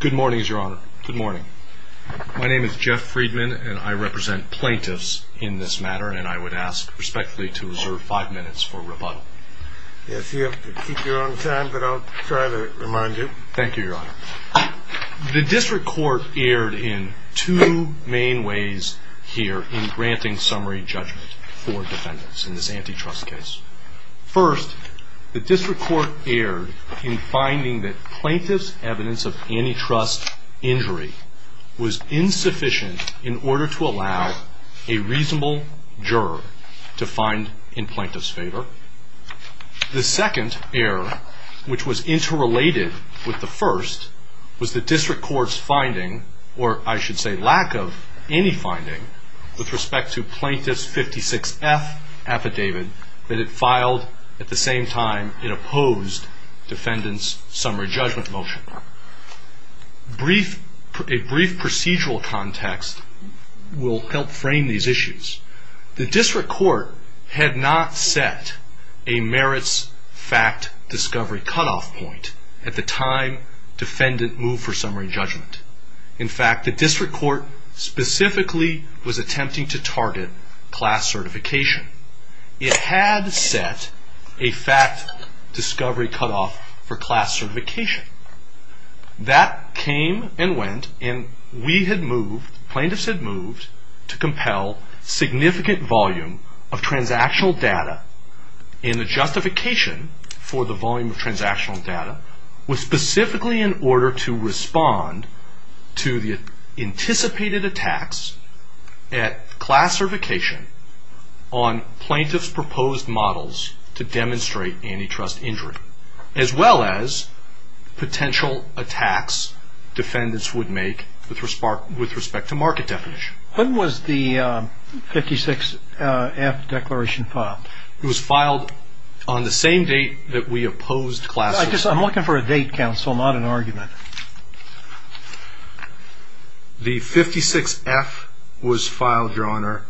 Good morning, Your Honor. Good morning. My name is Jeff Friedman, and I represent plaintiffs in this matter, and I would ask respectfully to reserve five minutes for rebuttal. Yes, you have to keep your own time, but I'll try to remind you. Thank you, Your Honor. The district court erred in two main ways here in granting summary judgment for defendants in this antitrust case. First, the district court erred in finding that plaintiff's evidence of antitrust injury was insufficient in order to allow a reasonable juror to find in plaintiff's favor. The second error, which was interrelated with the first, was the district court's finding, or I should say lack of any finding, with respect to plaintiff's 56F affidavit that it filed at the same time it opposed defendant's summary judgment motion. A brief procedural context will help frame these issues. The district court had not set a merits fact discovery cutoff point at the time defendant moved for summary judgment. In fact, the district court specifically was attempting to target class certification. It had set a fact discovery cutoff for class certification. That came and went, and we had moved, plaintiffs had moved, to compel significant volume of transactional data. And the justification for the volume of transactional data was specifically in order to respond to the anticipated attacks at class certification on plaintiff's proposed models to demonstrate antitrust injury, as well as potential attacks defendants would make with respect to market definition. When was the 56F declaration filed? It was filed on the same date that we opposed class certification. I'm looking for a date, counsel, not an argument. The 56F was filed, Your Honor,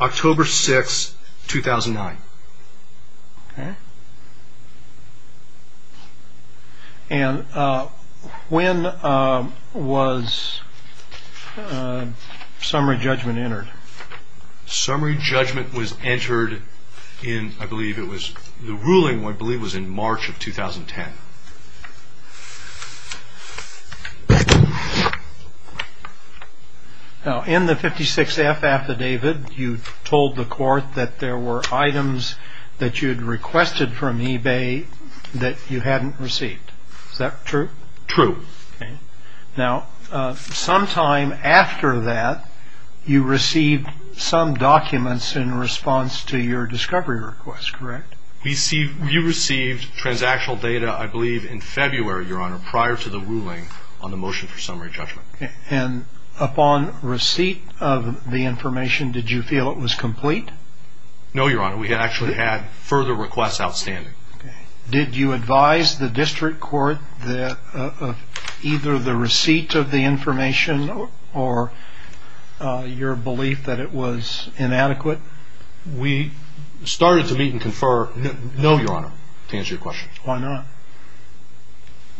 October 6, 2009. And when was summary judgment entered? Summary judgment was entered in, I believe it was, the ruling, I believe, was in March of 2010. Now, in the 56F affidavit, you told the court that there were items that you had requested from eBay that you hadn't received. Is that true? True. Okay. Now, sometime after that, you received some documents in response to your discovery request, correct? We received transactional data, I believe, in February, Your Honor, prior to the ruling on the motion for summary judgment. And upon receipt of the information, did you feel it was complete? No, Your Honor. We actually had further requests outstanding. Did you advise the district court of either the receipt of the information or your belief that it was inadequate? We started to meet and confer, no, Your Honor, to answer your question. Why not?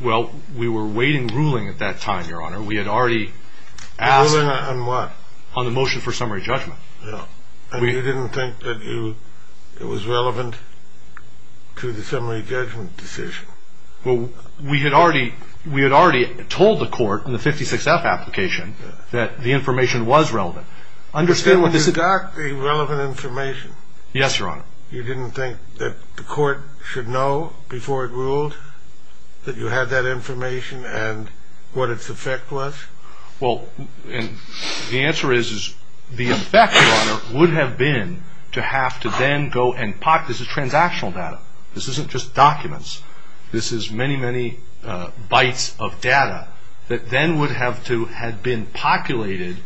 Well, we were awaiting ruling at that time, Your Honor. We had already asked... The ruling on what? On the motion for summary judgment. And you didn't think that it was relevant to the summary judgment decision? Well, we had already told the court in the 56F application that the information was relevant. But you got the relevant information? Yes, Your Honor. You didn't think that the court should know before it ruled that you had that information and what its effect was? Well, the answer is the effect, Your Honor, would have been to have to then go and pop... This is transactional data. This isn't just documents. This is many, many bytes of data that then would have to have been populated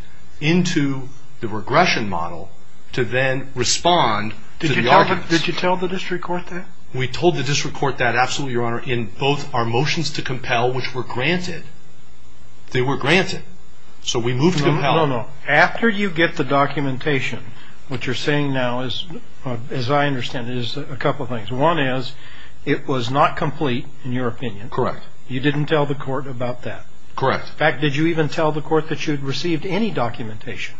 into the regression model to then respond to the arguments. Did you tell the district court that? We told the district court that, absolutely, Your Honor, in both our motions to compel, which were granted. They were granted. So we moved to compel. No, no, no. After you get the documentation, what you're saying now is, as I understand it, is a couple of things. One is, it was not complete, in your opinion. Correct. You didn't tell the court about that? Correct. In fact, did you even tell the court that you had received any documentation?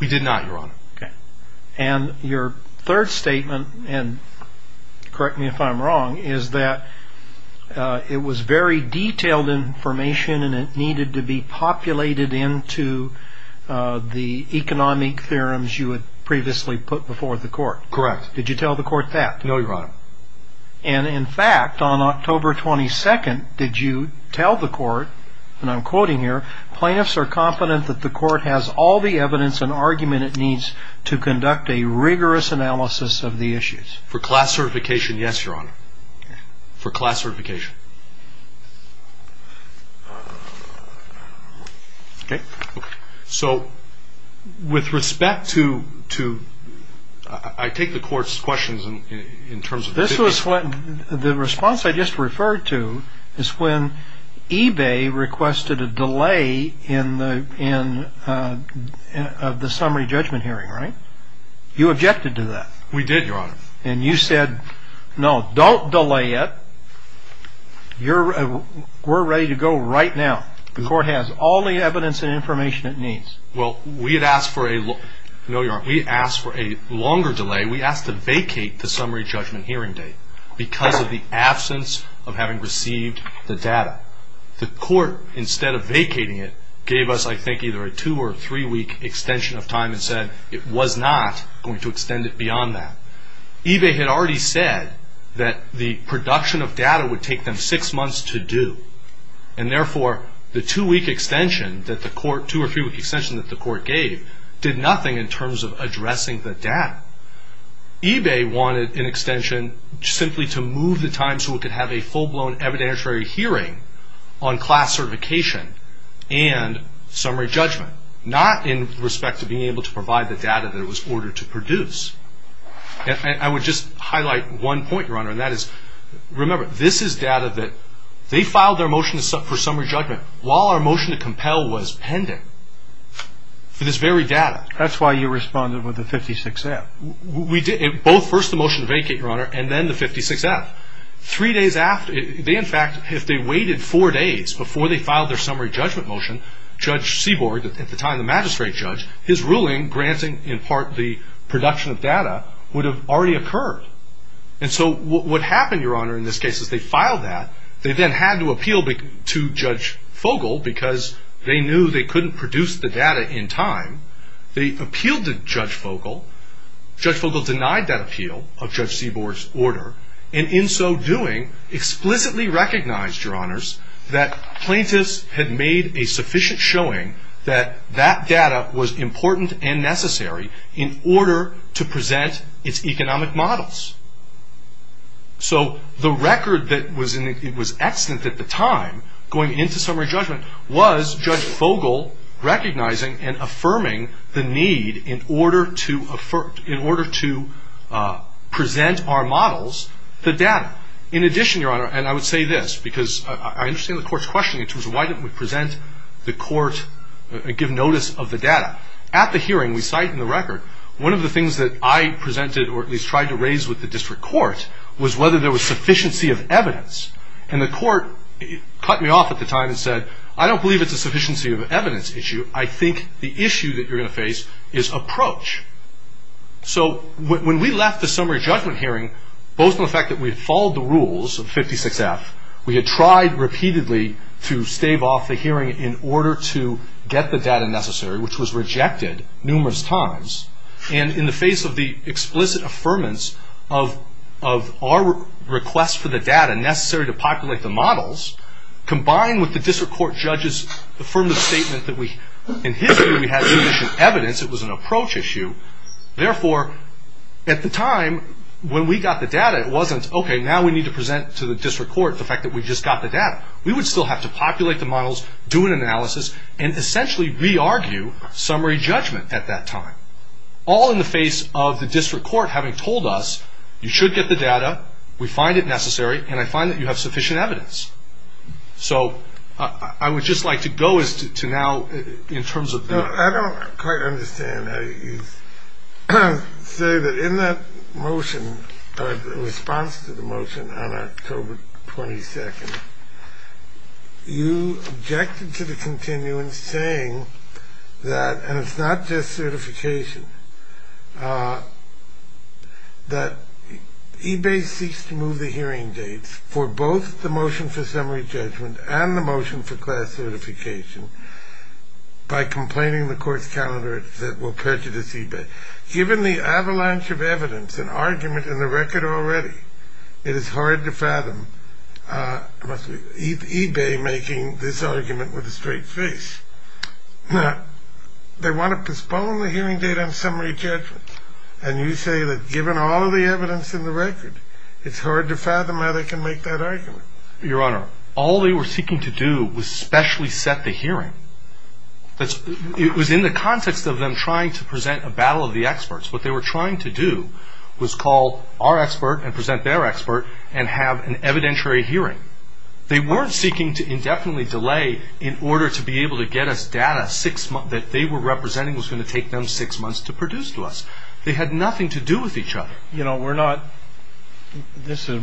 We did not, Your Honor. Okay. And your third statement, and correct me if I'm wrong, is that it was very detailed information, and it needed to be populated into the economic theorems you had previously put before the court. Correct. Did you tell the court that? No, Your Honor. And, in fact, on October 22nd, did you tell the court, and I'm quoting here, plaintiffs are confident that the court has all the evidence and argument it needs to conduct a rigorous analysis of the issues? For class certification, yes, Your Honor. For class certification. Okay. So, with respect to – I take the court's questions in terms of – This was – the response I just referred to is when eBay requested a delay in the summary judgment hearing, right? You objected to that. We did, Your Honor. And you said, no, don't delay it. We're ready to go right now. The court has all the evidence and information it needs. Well, we had asked for a – no, Your Honor. We asked for a longer delay. We asked to vacate the summary judgment hearing date because of the absence of having received the data. The court, instead of vacating it, gave us, I think, either a two- or three-week extension of time and said it was not going to extend it beyond that. eBay had already said that the production of data would take them six months to do. And, therefore, the two-week extension that the court – two- or three-week extension that the court gave did nothing in terms of addressing the data. eBay wanted an extension simply to move the time so it could have a full-blown evidentiary hearing on class certification and summary judgment, not in respect to being able to provide the data that it was ordered to produce. And I would just highlight one point, Your Honor, and that is, remember, this is data that – they filed their motion for summary judgment while our motion to compel was pending for this very data. That's why you responded with a 56-F. We did. Both first the motion to vacate, Your Honor, and then the 56-F. Three days after – they, in fact, if they waited four days before they filed their summary judgment motion, Judge Seaborg, at the time the magistrate judge, his ruling granting, in part, the production of data, would have already occurred. And so what happened, Your Honor, in this case is they filed that. They then had to appeal to Judge Fogel because they knew they couldn't produce the data in time. They appealed to Judge Fogel. Judge Fogel denied that appeal of Judge Seaborg's order, and in so doing, explicitly recognized, Your Honors, that plaintiffs had made a sufficient showing that that data was important and necessary in order to present its economic models. So the record that was in – it was extant at the time, going into summary judgment, was Judge Fogel recognizing and affirming the need in order to – in order to present our models, the data. In addition, Your Honor, and I would say this, because I understand the court's question, which was why didn't we present the court – give notice of the data. At the hearing, we cite in the record, one of the things that I presented, or at least tried to raise with the district court, was whether there was sufficiency of evidence. And the court cut me off at the time and said, I don't believe it's a sufficiency of evidence issue. I think the issue that you're going to face is approach. So when we left the summary judgment hearing, both in the fact that we had followed the rules of 56F, we had tried repeatedly to stave off the hearing in order to get the data necessary, which was rejected numerous times. And in the face of the explicit affirmance of our request for the data necessary to populate the models, combined with the district court judge's affirmative statement that we – in history, we had sufficient evidence, it was an approach issue. Therefore, at the time, when we got the data, it wasn't, okay, now we need to present to the district court the fact that we just got the data. We would still have to populate the models, do an analysis, and essentially re-argue summary judgment at that time. All in the face of the district court having told us, you should get the data, we find it necessary, and I find that you have sufficient evidence. So I would just like to go as to now in terms of the – I don't quite understand how you say that in that motion, the response to the motion on October 22nd, you objected to the continuance saying that, and it's not just certification, that eBay seeks to move the hearing dates for both the motion for summary judgment and the motion for class certification by complaining the court's calendar that will prejudice eBay. Given the avalanche of evidence and argument in the record already, it is hard to fathom. eBay making this argument with a straight face. Now, they want to postpone the hearing date on summary judgment, and you say that given all of the evidence in the record, it's hard to fathom how they can make that argument. Your Honor, all they were seeking to do was specially set the hearing. It was in the context of them trying to present a battle of the experts. What they were trying to do was call our expert and present their expert and have an evidentiary hearing. They weren't seeking to indefinitely delay in order to be able to get us data that they were representing was going to take them six months to produce to us. They had nothing to do with each other. You know, we're not – this is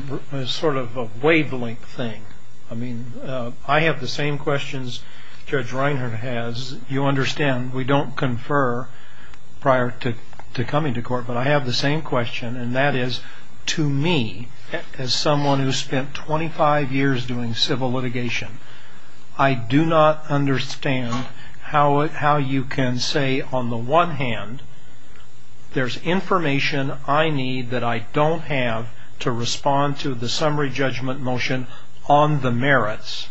sort of a wavelength thing. I mean, I have the same questions Judge Reinhart has. As you understand, we don't confer prior to coming to court, but I have the same question, and that is, to me, as someone who spent 25 years doing civil litigation, I do not understand how you can say on the one hand, there's information I need that I don't have to respond to the summary judgment motion on the merits,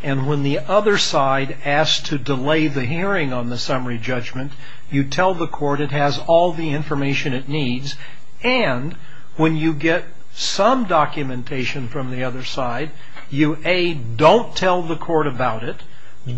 and when the other side asks to delay the hearing on the summary judgment, you tell the court it has all the information it needs, and when you get some documentation from the other side, you, A, don't tell the court about it,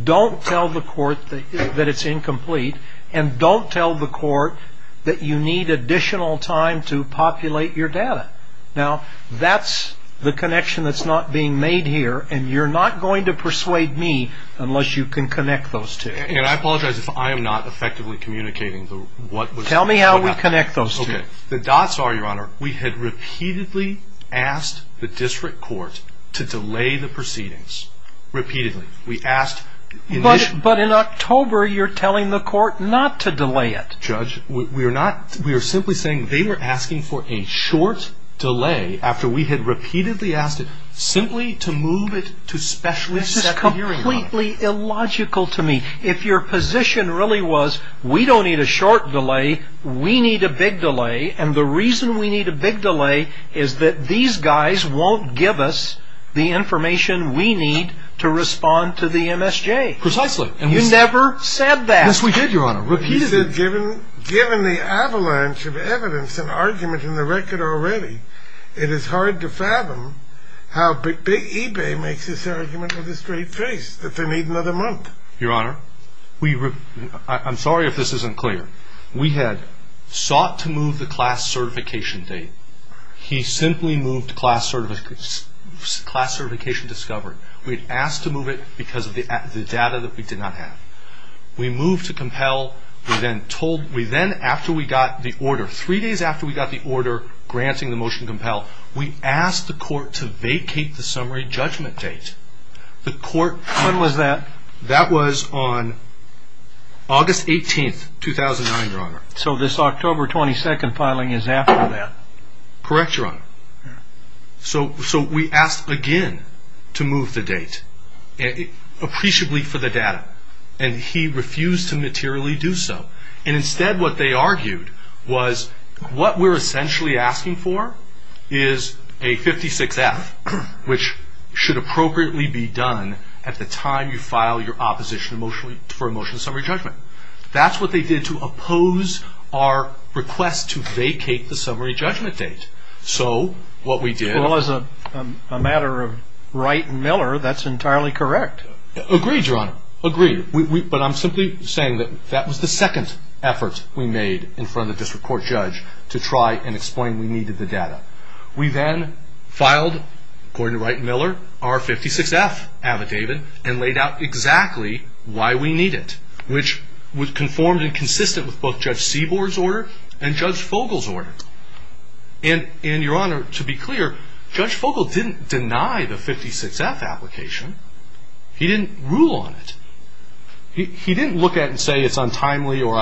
don't tell the court that it's incomplete, and don't tell the court that you need additional time to populate your data. Now, that's the connection that's not being made here, and you're not going to persuade me unless you can connect those two. And I apologize if I am not effectively communicating what – Tell me how we connect those two. Okay. The dots are, Your Honor, we had repeatedly asked the district court to delay the proceedings. Repeatedly. We asked – But in October, you're telling the court not to delay it. Judge, we are not – we are simply saying they were asking for a short delay after we had repeatedly asked it simply to move it to special – This is completely illogical to me. If your position really was we don't need a short delay, we need a big delay, and the reason we need a big delay is that these guys won't give us the information we need to respond to the MSJ. Precisely. You never said that. Yes, we did, Your Honor. Repeatedly. You said given the avalanche of evidence and argument in the record already, it is hard to fathom how big eBay makes this argument with a straight face that they need another month. Your Honor, we – I'm sorry if this isn't clear. We had sought to move the class certification date. He simply moved class certification discovered. We had asked to move it because of the data that we did not have. We moved to compel. We then told – we then, after we got the order, three days after we got the order granting the motion to compel, we asked the court to vacate the summary judgment date. The court – When was that? That was on August 18th, 2009, Your Honor. So this October 22nd filing is after that. Correct, Your Honor. So we asked again to move the date appreciably for the data, and he refused to materially do so. And instead what they argued was what we're essentially asking for is a 56F, which should appropriately be done at the time you file your opposition for a motion to summary judgment. That's what they did to oppose our request to vacate the summary judgment date. So what we did – Well, as a matter of Wright and Miller, that's entirely correct. Agreed, Your Honor. Agreed. But I'm simply saying that that was the second effort we made in front of the district court judge to try and explain we needed the data. We then filed, according to Wright and Miller, our 56F affidavit and laid out exactly why we need it, which was conformed and consistent with both Judge Seaborg's order and Judge Fogle's order. And, Your Honor, to be clear, Judge Fogle didn't deny the 56F application. He didn't rule on it. He didn't look at it and say it's untimely or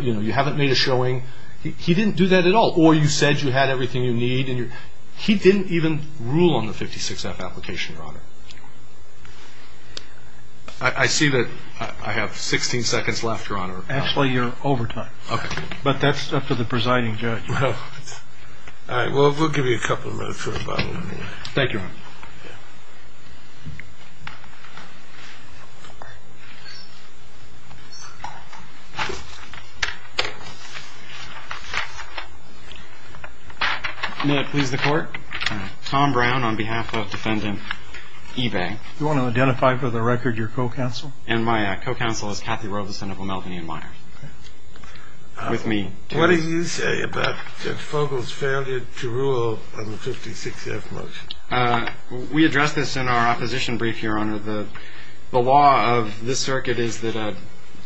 you haven't made a showing. He didn't do that at all. Or you said you had everything you need. He didn't even rule on the 56F application, Your Honor. I see that I have 16 seconds left, Your Honor. Actually, you're over time. Okay. But that's up to the presiding judge. Well, all right. We'll give you a couple of minutes. Thank you, Your Honor. May it please the Court? Tom Brown on behalf of Defendant Ebay. Do you want to identify for the record your co-counsel? And my co-counsel is Kathy Robeson of O'Melveny & Meyers with me today. What do you say about Judge Fogle's failure to rule on the 56F motion? We addressed this in our opposition brief, Your Honor. The law of this circuit is that a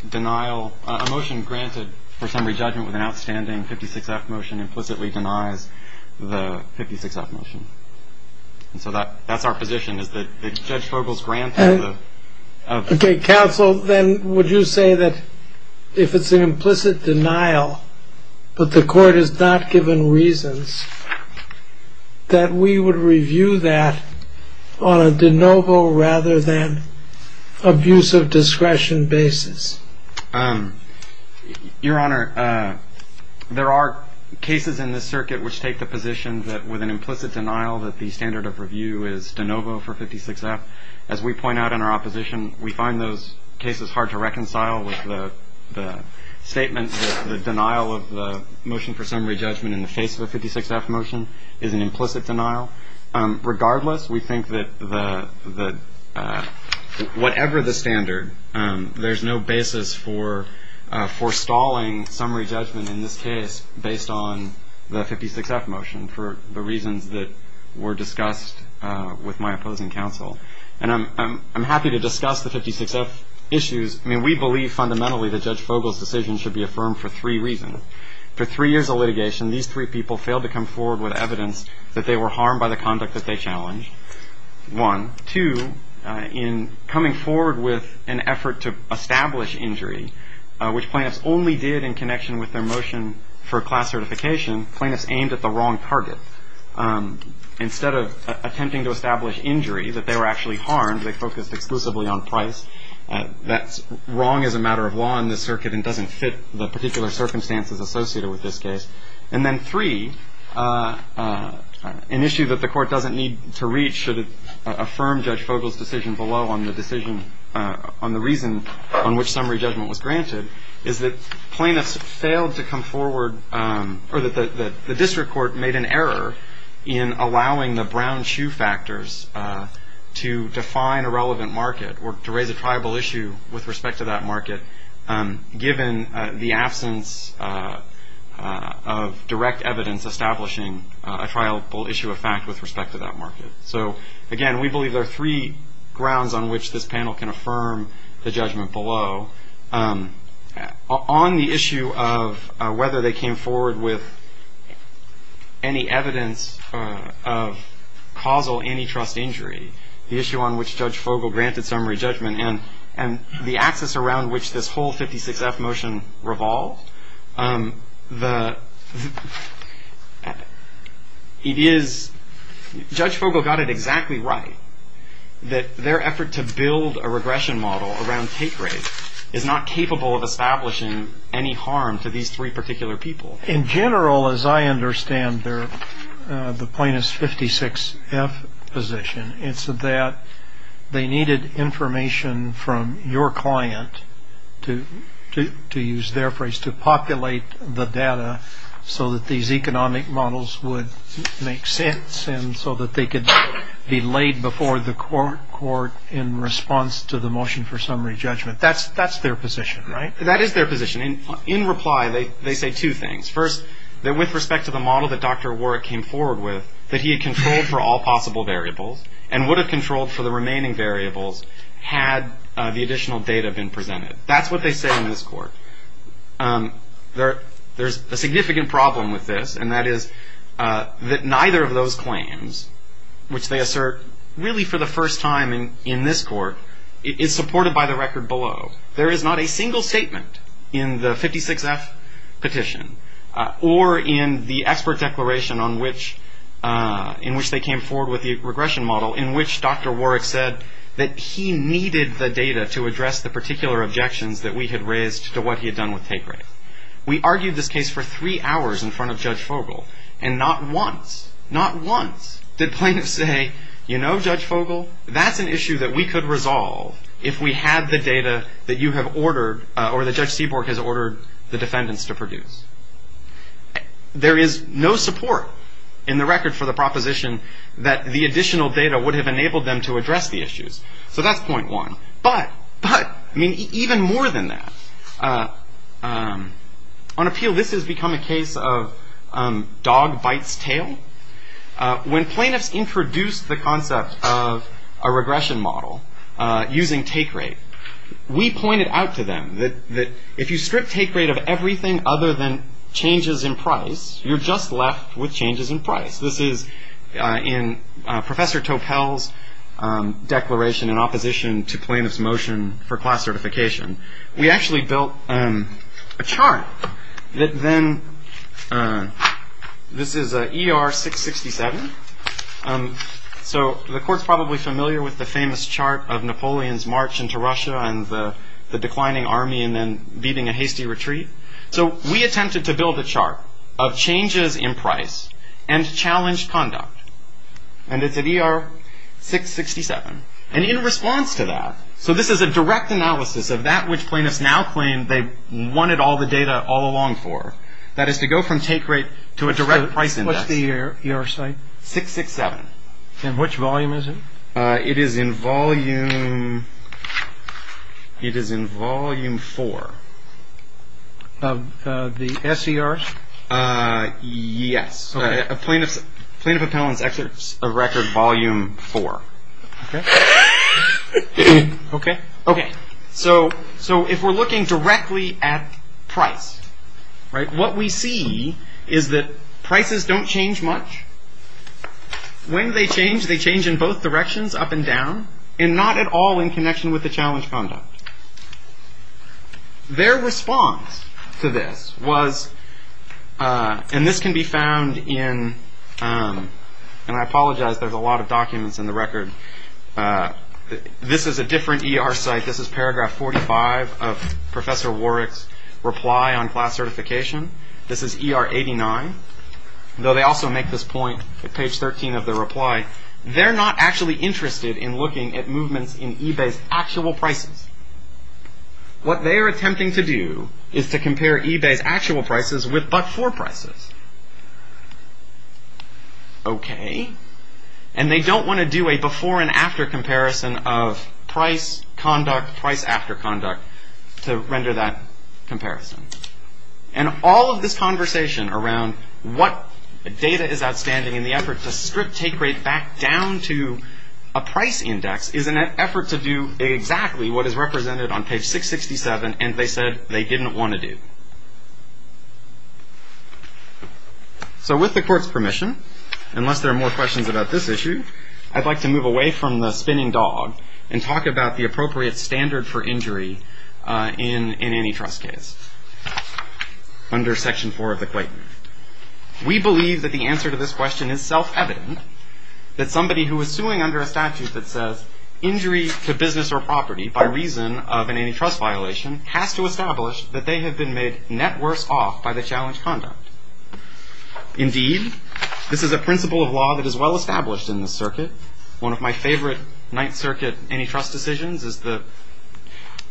denial, a motion granted for summary judgment with an outstanding 56F motion implicitly denies the 56F motion. And so that's our position, is that Judge Fogle's grant of the- Okay, counsel, then would you say that if it's an implicit denial, but the Court has not given reasons, that we would review that on a de novo rather than abuse of discretion basis? Your Honor, there are cases in this circuit which take the position that with an implicit denial that the standard of review is de novo for 56F. As we point out in our opposition, we find those cases hard to reconcile with the statement that the denial of the motion for summary judgment in the face of a 56F motion is an implicit denial. Regardless, we think that whatever the standard, there's no basis for stalling summary judgment in this case based on the 56F motion for the reasons that were discussed with my opposing counsel. And I'm happy to discuss the 56F issues. I mean, we believe fundamentally that Judge Fogle's decision should be affirmed for three reasons. For three years of litigation, these three people failed to come forward with evidence that they were harmed by the conduct that they challenged, one. Two, in coming forward with an effort to establish injury, which plaintiffs only did in connection with their motion for class certification, plaintiffs aimed at the wrong target. Instead of attempting to establish injury, that they were actually harmed, they focused exclusively on price. That's wrong as a matter of law in this circuit and doesn't fit the particular circumstances associated with this case. And then three, an issue that the court doesn't need to reach should it affirm Judge Fogle's decision below on the decision, on the reason on which summary judgment was granted, is that plaintiffs failed to come forward, or that the district court made an error in allowing the brown shoe factors to define a relevant market or to raise a tribal issue with respect to that market given the absence of direct evidence establishing a tribal issue of fact with respect to that market. So again, we believe there are three grounds on which this panel can affirm the judgment below. On the issue of whether they came forward with any evidence of causal antitrust injury, the issue on which Judge Fogle granted summary judgment, and the axis around which this whole 56-F motion revolved, it is, Judge Fogle got it exactly right, that their effort to build a regression model around take rate is not capable of establishing any harm to these three particular people. In general, as I understand the plaintiff's 56-F position, it's that they needed information from your client, to use their phrase, to populate the data, so that these economic models would make sense and so that they could be laid before the court in response to the motion for summary judgment. That's their position, right? That is their position. In reply, they say two things. First, that with respect to the model that Dr. Warwick came forward with, that he had controlled for all possible variables and would have controlled for the remaining variables had the additional data been presented. That's what they say in this court. There's a significant problem with this, and that is that neither of those claims, which they assert really for the first time in this court, is supported by the record below. There is not a single statement in the 56-F petition or in the expert declaration in which they came forward with the regression model in which Dr. Warwick said that he needed the data to address the particular objections that we had raised to what he had done with take rates. We argued this case for three hours in front of Judge Fogel, and not once, not once, did plaintiffs say, you know, Judge Fogel, that's an issue that we could resolve if we had the data that you have ordered or that Judge Seaborg has ordered the defendants to produce. There is no support in the record for the proposition that the additional data would have enabled them to address the issues. So that's point one. But, but, I mean, even more than that, on appeal this has become a case of dog bites tail. When plaintiffs introduced the concept of a regression model using take rate, we pointed out to them that if you strip take rate of everything other than changes in price, you're just left with changes in price. This is in Professor Topel's declaration in opposition to plaintiffs' motion for class certification. We actually built a chart that then, this is ER 667. So the court's probably familiar with the famous chart of Napoleon's march into Russia and the declining army and then beating a hasty retreat. So we attempted to build a chart of changes in price and challenged conduct. And it's at ER 667. And in response to that, so this is a direct analysis of that which plaintiffs now claim they wanted all the data all along for. That is to go from take rate to a direct price index. So what's the ER site? 667. In which volume is it? It is in volume 4. The SCRs? Yes. Plaintiff appellant's excerpts of record volume 4. Okay. Okay. So if we're looking directly at price, right, what we see is that prices don't change much. When they change, they change in both directions, up and down, and not at all in connection with the challenged conduct. Their response to this was, and this can be found in, and I apologize, there's a lot of documents in the record. This is a different ER site. This is paragraph 45 of Professor Warwick's reply on class certification. This is ER 89. Though they also make this point at page 13 of their reply. They're not actually interested in looking at movements in eBay's actual prices. What they are attempting to do is to compare eBay's actual prices with but-for prices. Okay. And they don't want to do a before and after comparison of price, conduct, price after conduct to render that comparison. And all of this conversation around what data is outstanding in the effort to strip take rate back down to a price index is an effort to do exactly what is represented on page 667, and they said they didn't want to do. So with the court's permission, unless there are more questions about this issue, I'd like to move away from the spinning dog and talk about the appropriate standard for injury in an antitrust case under section 4 of the Clayton. We believe that the answer to this question is self-evident, that somebody who is suing under a statute that says injury to business or property by reason of an antitrust violation has to establish that they have been made net worse off by the challenged conduct. Indeed, this is a principle of law that is well established in this circuit, one of my favorite Ninth Circuit antitrust decisions is the,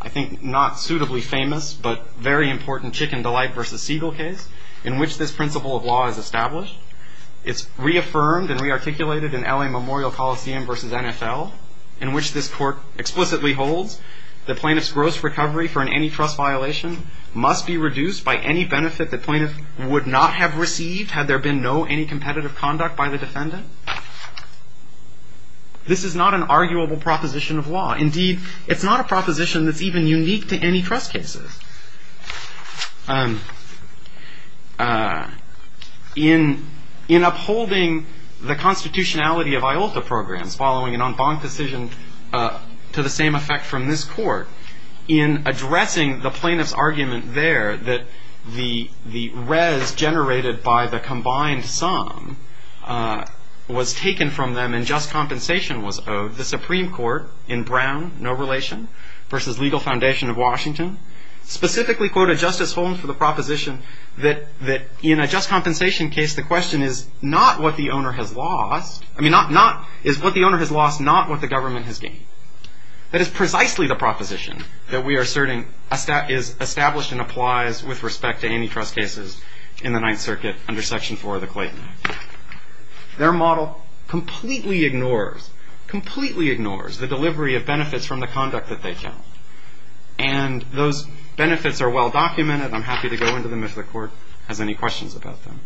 I think, not suitably famous but very important Chicken Delight v. Siegel case in which this principle of law is established. It's reaffirmed and rearticulated in L.A. Memorial Coliseum v. NFL in which this court explicitly holds the plaintiff's gross recovery for an antitrust violation must be reduced by any benefit the plaintiff would not have received had there been no anticompetitive conduct by the defendant. This is not an arguable proposition of law. Indeed, it's not a proposition that's even unique to antitrust cases. In upholding the constitutionality of IOLTA programs, following an en banc decision to the same effect from this court, in addressing the plaintiff's argument there that the res generated by the combined sum was taken from them and just compensation was owed, the Supreme Court in Brown v. Legal Foundation of Washington specifically quoted Justice Holmes for the proposition that in a just compensation case the question is not what the owner has lost, I mean, is what the owner has lost not what the government has gained. That is precisely the proposition that we are asserting is established and applies with respect to antitrust cases in the Ninth Circuit under Section 4 of the Clayton Act. Their model completely ignores, completely ignores the delivery of benefits from the conduct that they count. And those benefits are well documented. I'm happy to go into them if the court has any questions about them.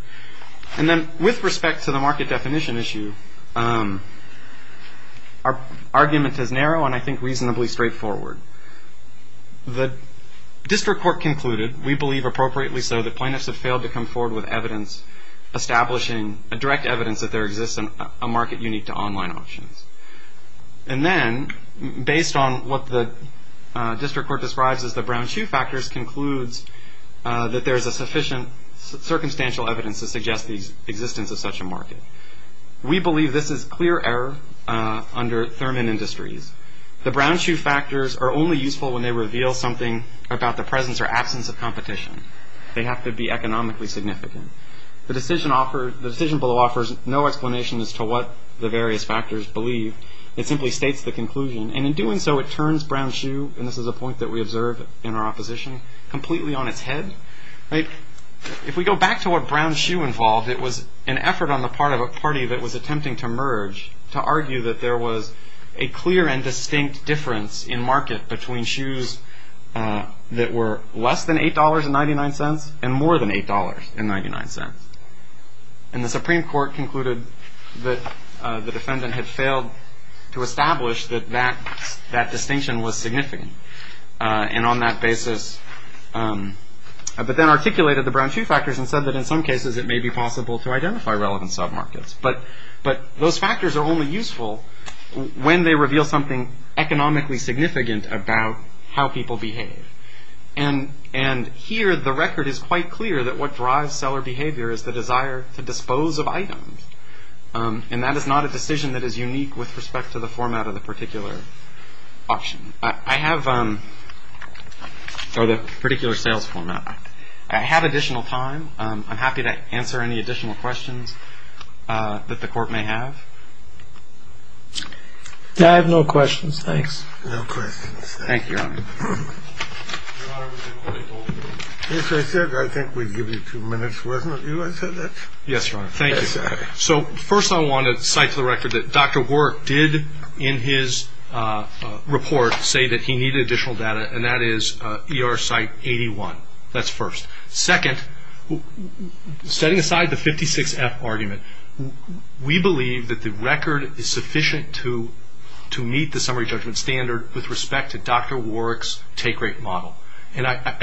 And then with respect to the market definition issue, our argument is narrow and I think reasonably straightforward. The district court concluded, we believe appropriately so, that plaintiffs have failed to come forward with evidence establishing a direct evidence that there exists a market unique to online options. And then, based on what the district court describes as the brown shoe factors, concludes that there is a sufficient circumstantial evidence to suggest the existence of such a market. We believe this is clear error under Thurman Industries. The brown shoe factors are only useful when they reveal something about the presence or absence of competition. They have to be economically significant. The decision below offers no explanation as to what the various factors believe. It simply states the conclusion. And in doing so, it turns brown shoe, and this is a point that we observe in our opposition, completely on its head. If we go back to what brown shoe involved, it was an effort on the part of a party that was attempting to merge to argue that there was a clear and distinct difference in market between shoes that were less than $8.99 and more than $8.99. And the Supreme Court concluded that the defendant had failed to establish that that distinction was significant. And on that basis, but then articulated the brown shoe factors and said that in some cases it may be possible to identify relevant submarkets. But those factors are only useful when they reveal something economically significant about how people behave. And here the record is quite clear that what drives seller behavior is the desire to dispose of items. And that is not a decision that is unique with respect to the format of the particular option. I have a particular sales format. I have additional time. I'm happy to answer any additional questions that the court may have. I have no questions. Thanks. No questions. Thank you, Your Honor. Yes, I said I think we'd give you two minutes, wasn't it? You guys said that? Yes, Your Honor. Thank you. So, first I want to cite to the record that Dr. Work did in his report say that he needed additional data, and that is ER site 81. That's first. Second, setting aside the 56F argument, we believe that the record is sufficient to meet the summary judgment standard with respect to Dr. Warwick's take rate model. And I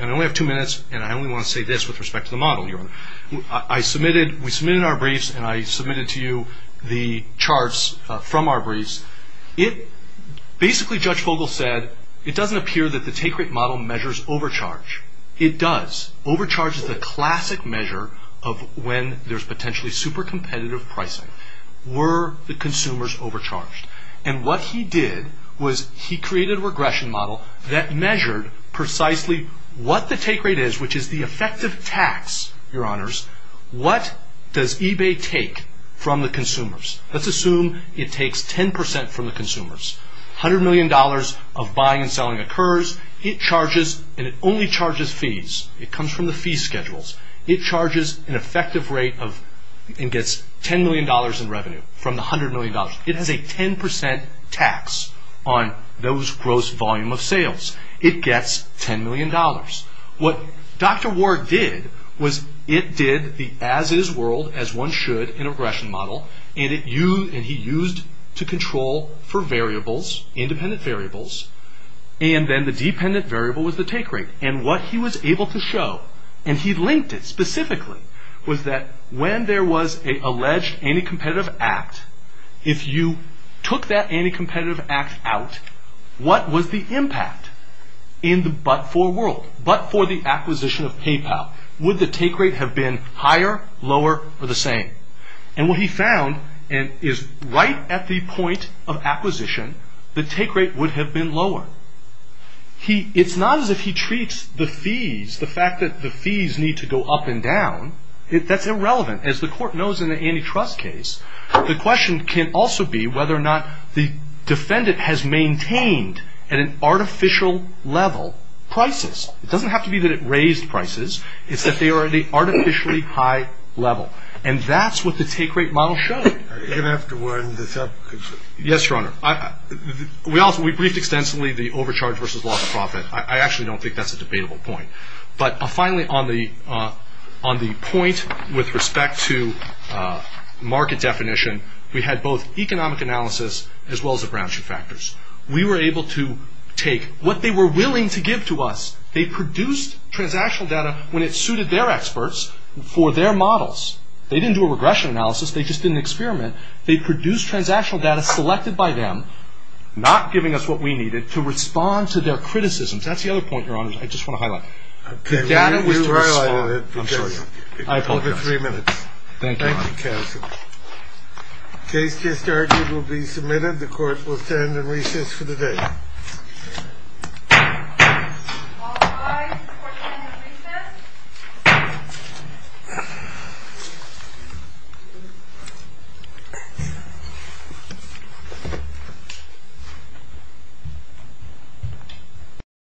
only have two minutes, and I only want to say this with respect to the model, Your Honor. We submitted our briefs, and I submitted to you the charts from our briefs. Basically, Judge Vogel said it doesn't appear that the take rate model measures overcharge. It does. Overcharge is the classic measure of when there's potentially super competitive pricing. Were the consumers overcharged? And what he did was he created a regression model that measured precisely what the take rate is, which is the effective tax, Your Honors. What does eBay take from the consumers? Let's assume it takes 10% from the consumers. $100 million of buying and selling occurs. It charges, and it only charges fees. It comes from the fee schedules. It charges an effective rate and gets $10 million in revenue from the $100 million. It has a 10% tax on those gross volume of sales. It gets $10 million. What Dr. Warwick did was it did the as-is world as one should in a regression model, and he used to control for variables, independent variables, and then the dependent variable was the take rate. And what he was able to show, and he linked it specifically, was that when there was an alleged anti-competitive act, if you took that anti-competitive act out, what was the impact in the but-for world, but for the acquisition of PayPal? Would the take rate have been higher, lower, or the same? And what he found is right at the point of acquisition, the take rate would have been lower. It's not as if he treats the fees, the fact that the fees need to go up and down, that's irrelevant. As the court knows in the antitrust case, the question can also be whether or not the defendant has maintained, at an artificial level, prices. It doesn't have to be that it raised prices. It's that they are at an artificially high level, and that's what the take rate model showed. Are you going to have to wind this up? Yes, Your Honor. We also briefed extensively the overcharge versus loss of profit. I actually don't think that's a debatable point. But finally, on the point with respect to market definition, we had both economic analysis as well as a branch of factors. We were able to take what they were willing to give to us. They produced transactional data when it suited their experts for their models. They didn't do a regression analysis. They just didn't experiment. They produced transactional data selected by them, not giving us what we needed, to respond to their criticisms. That's the other point, Your Honor, I just want to highlight. The data was to respond. I apologize. I have over three minutes. Thank you. Thank you, Cassidy. The case just argued will be submitted. The court will stand in recess for the day. All rise. The court will stand in recess. The court will stand in recess.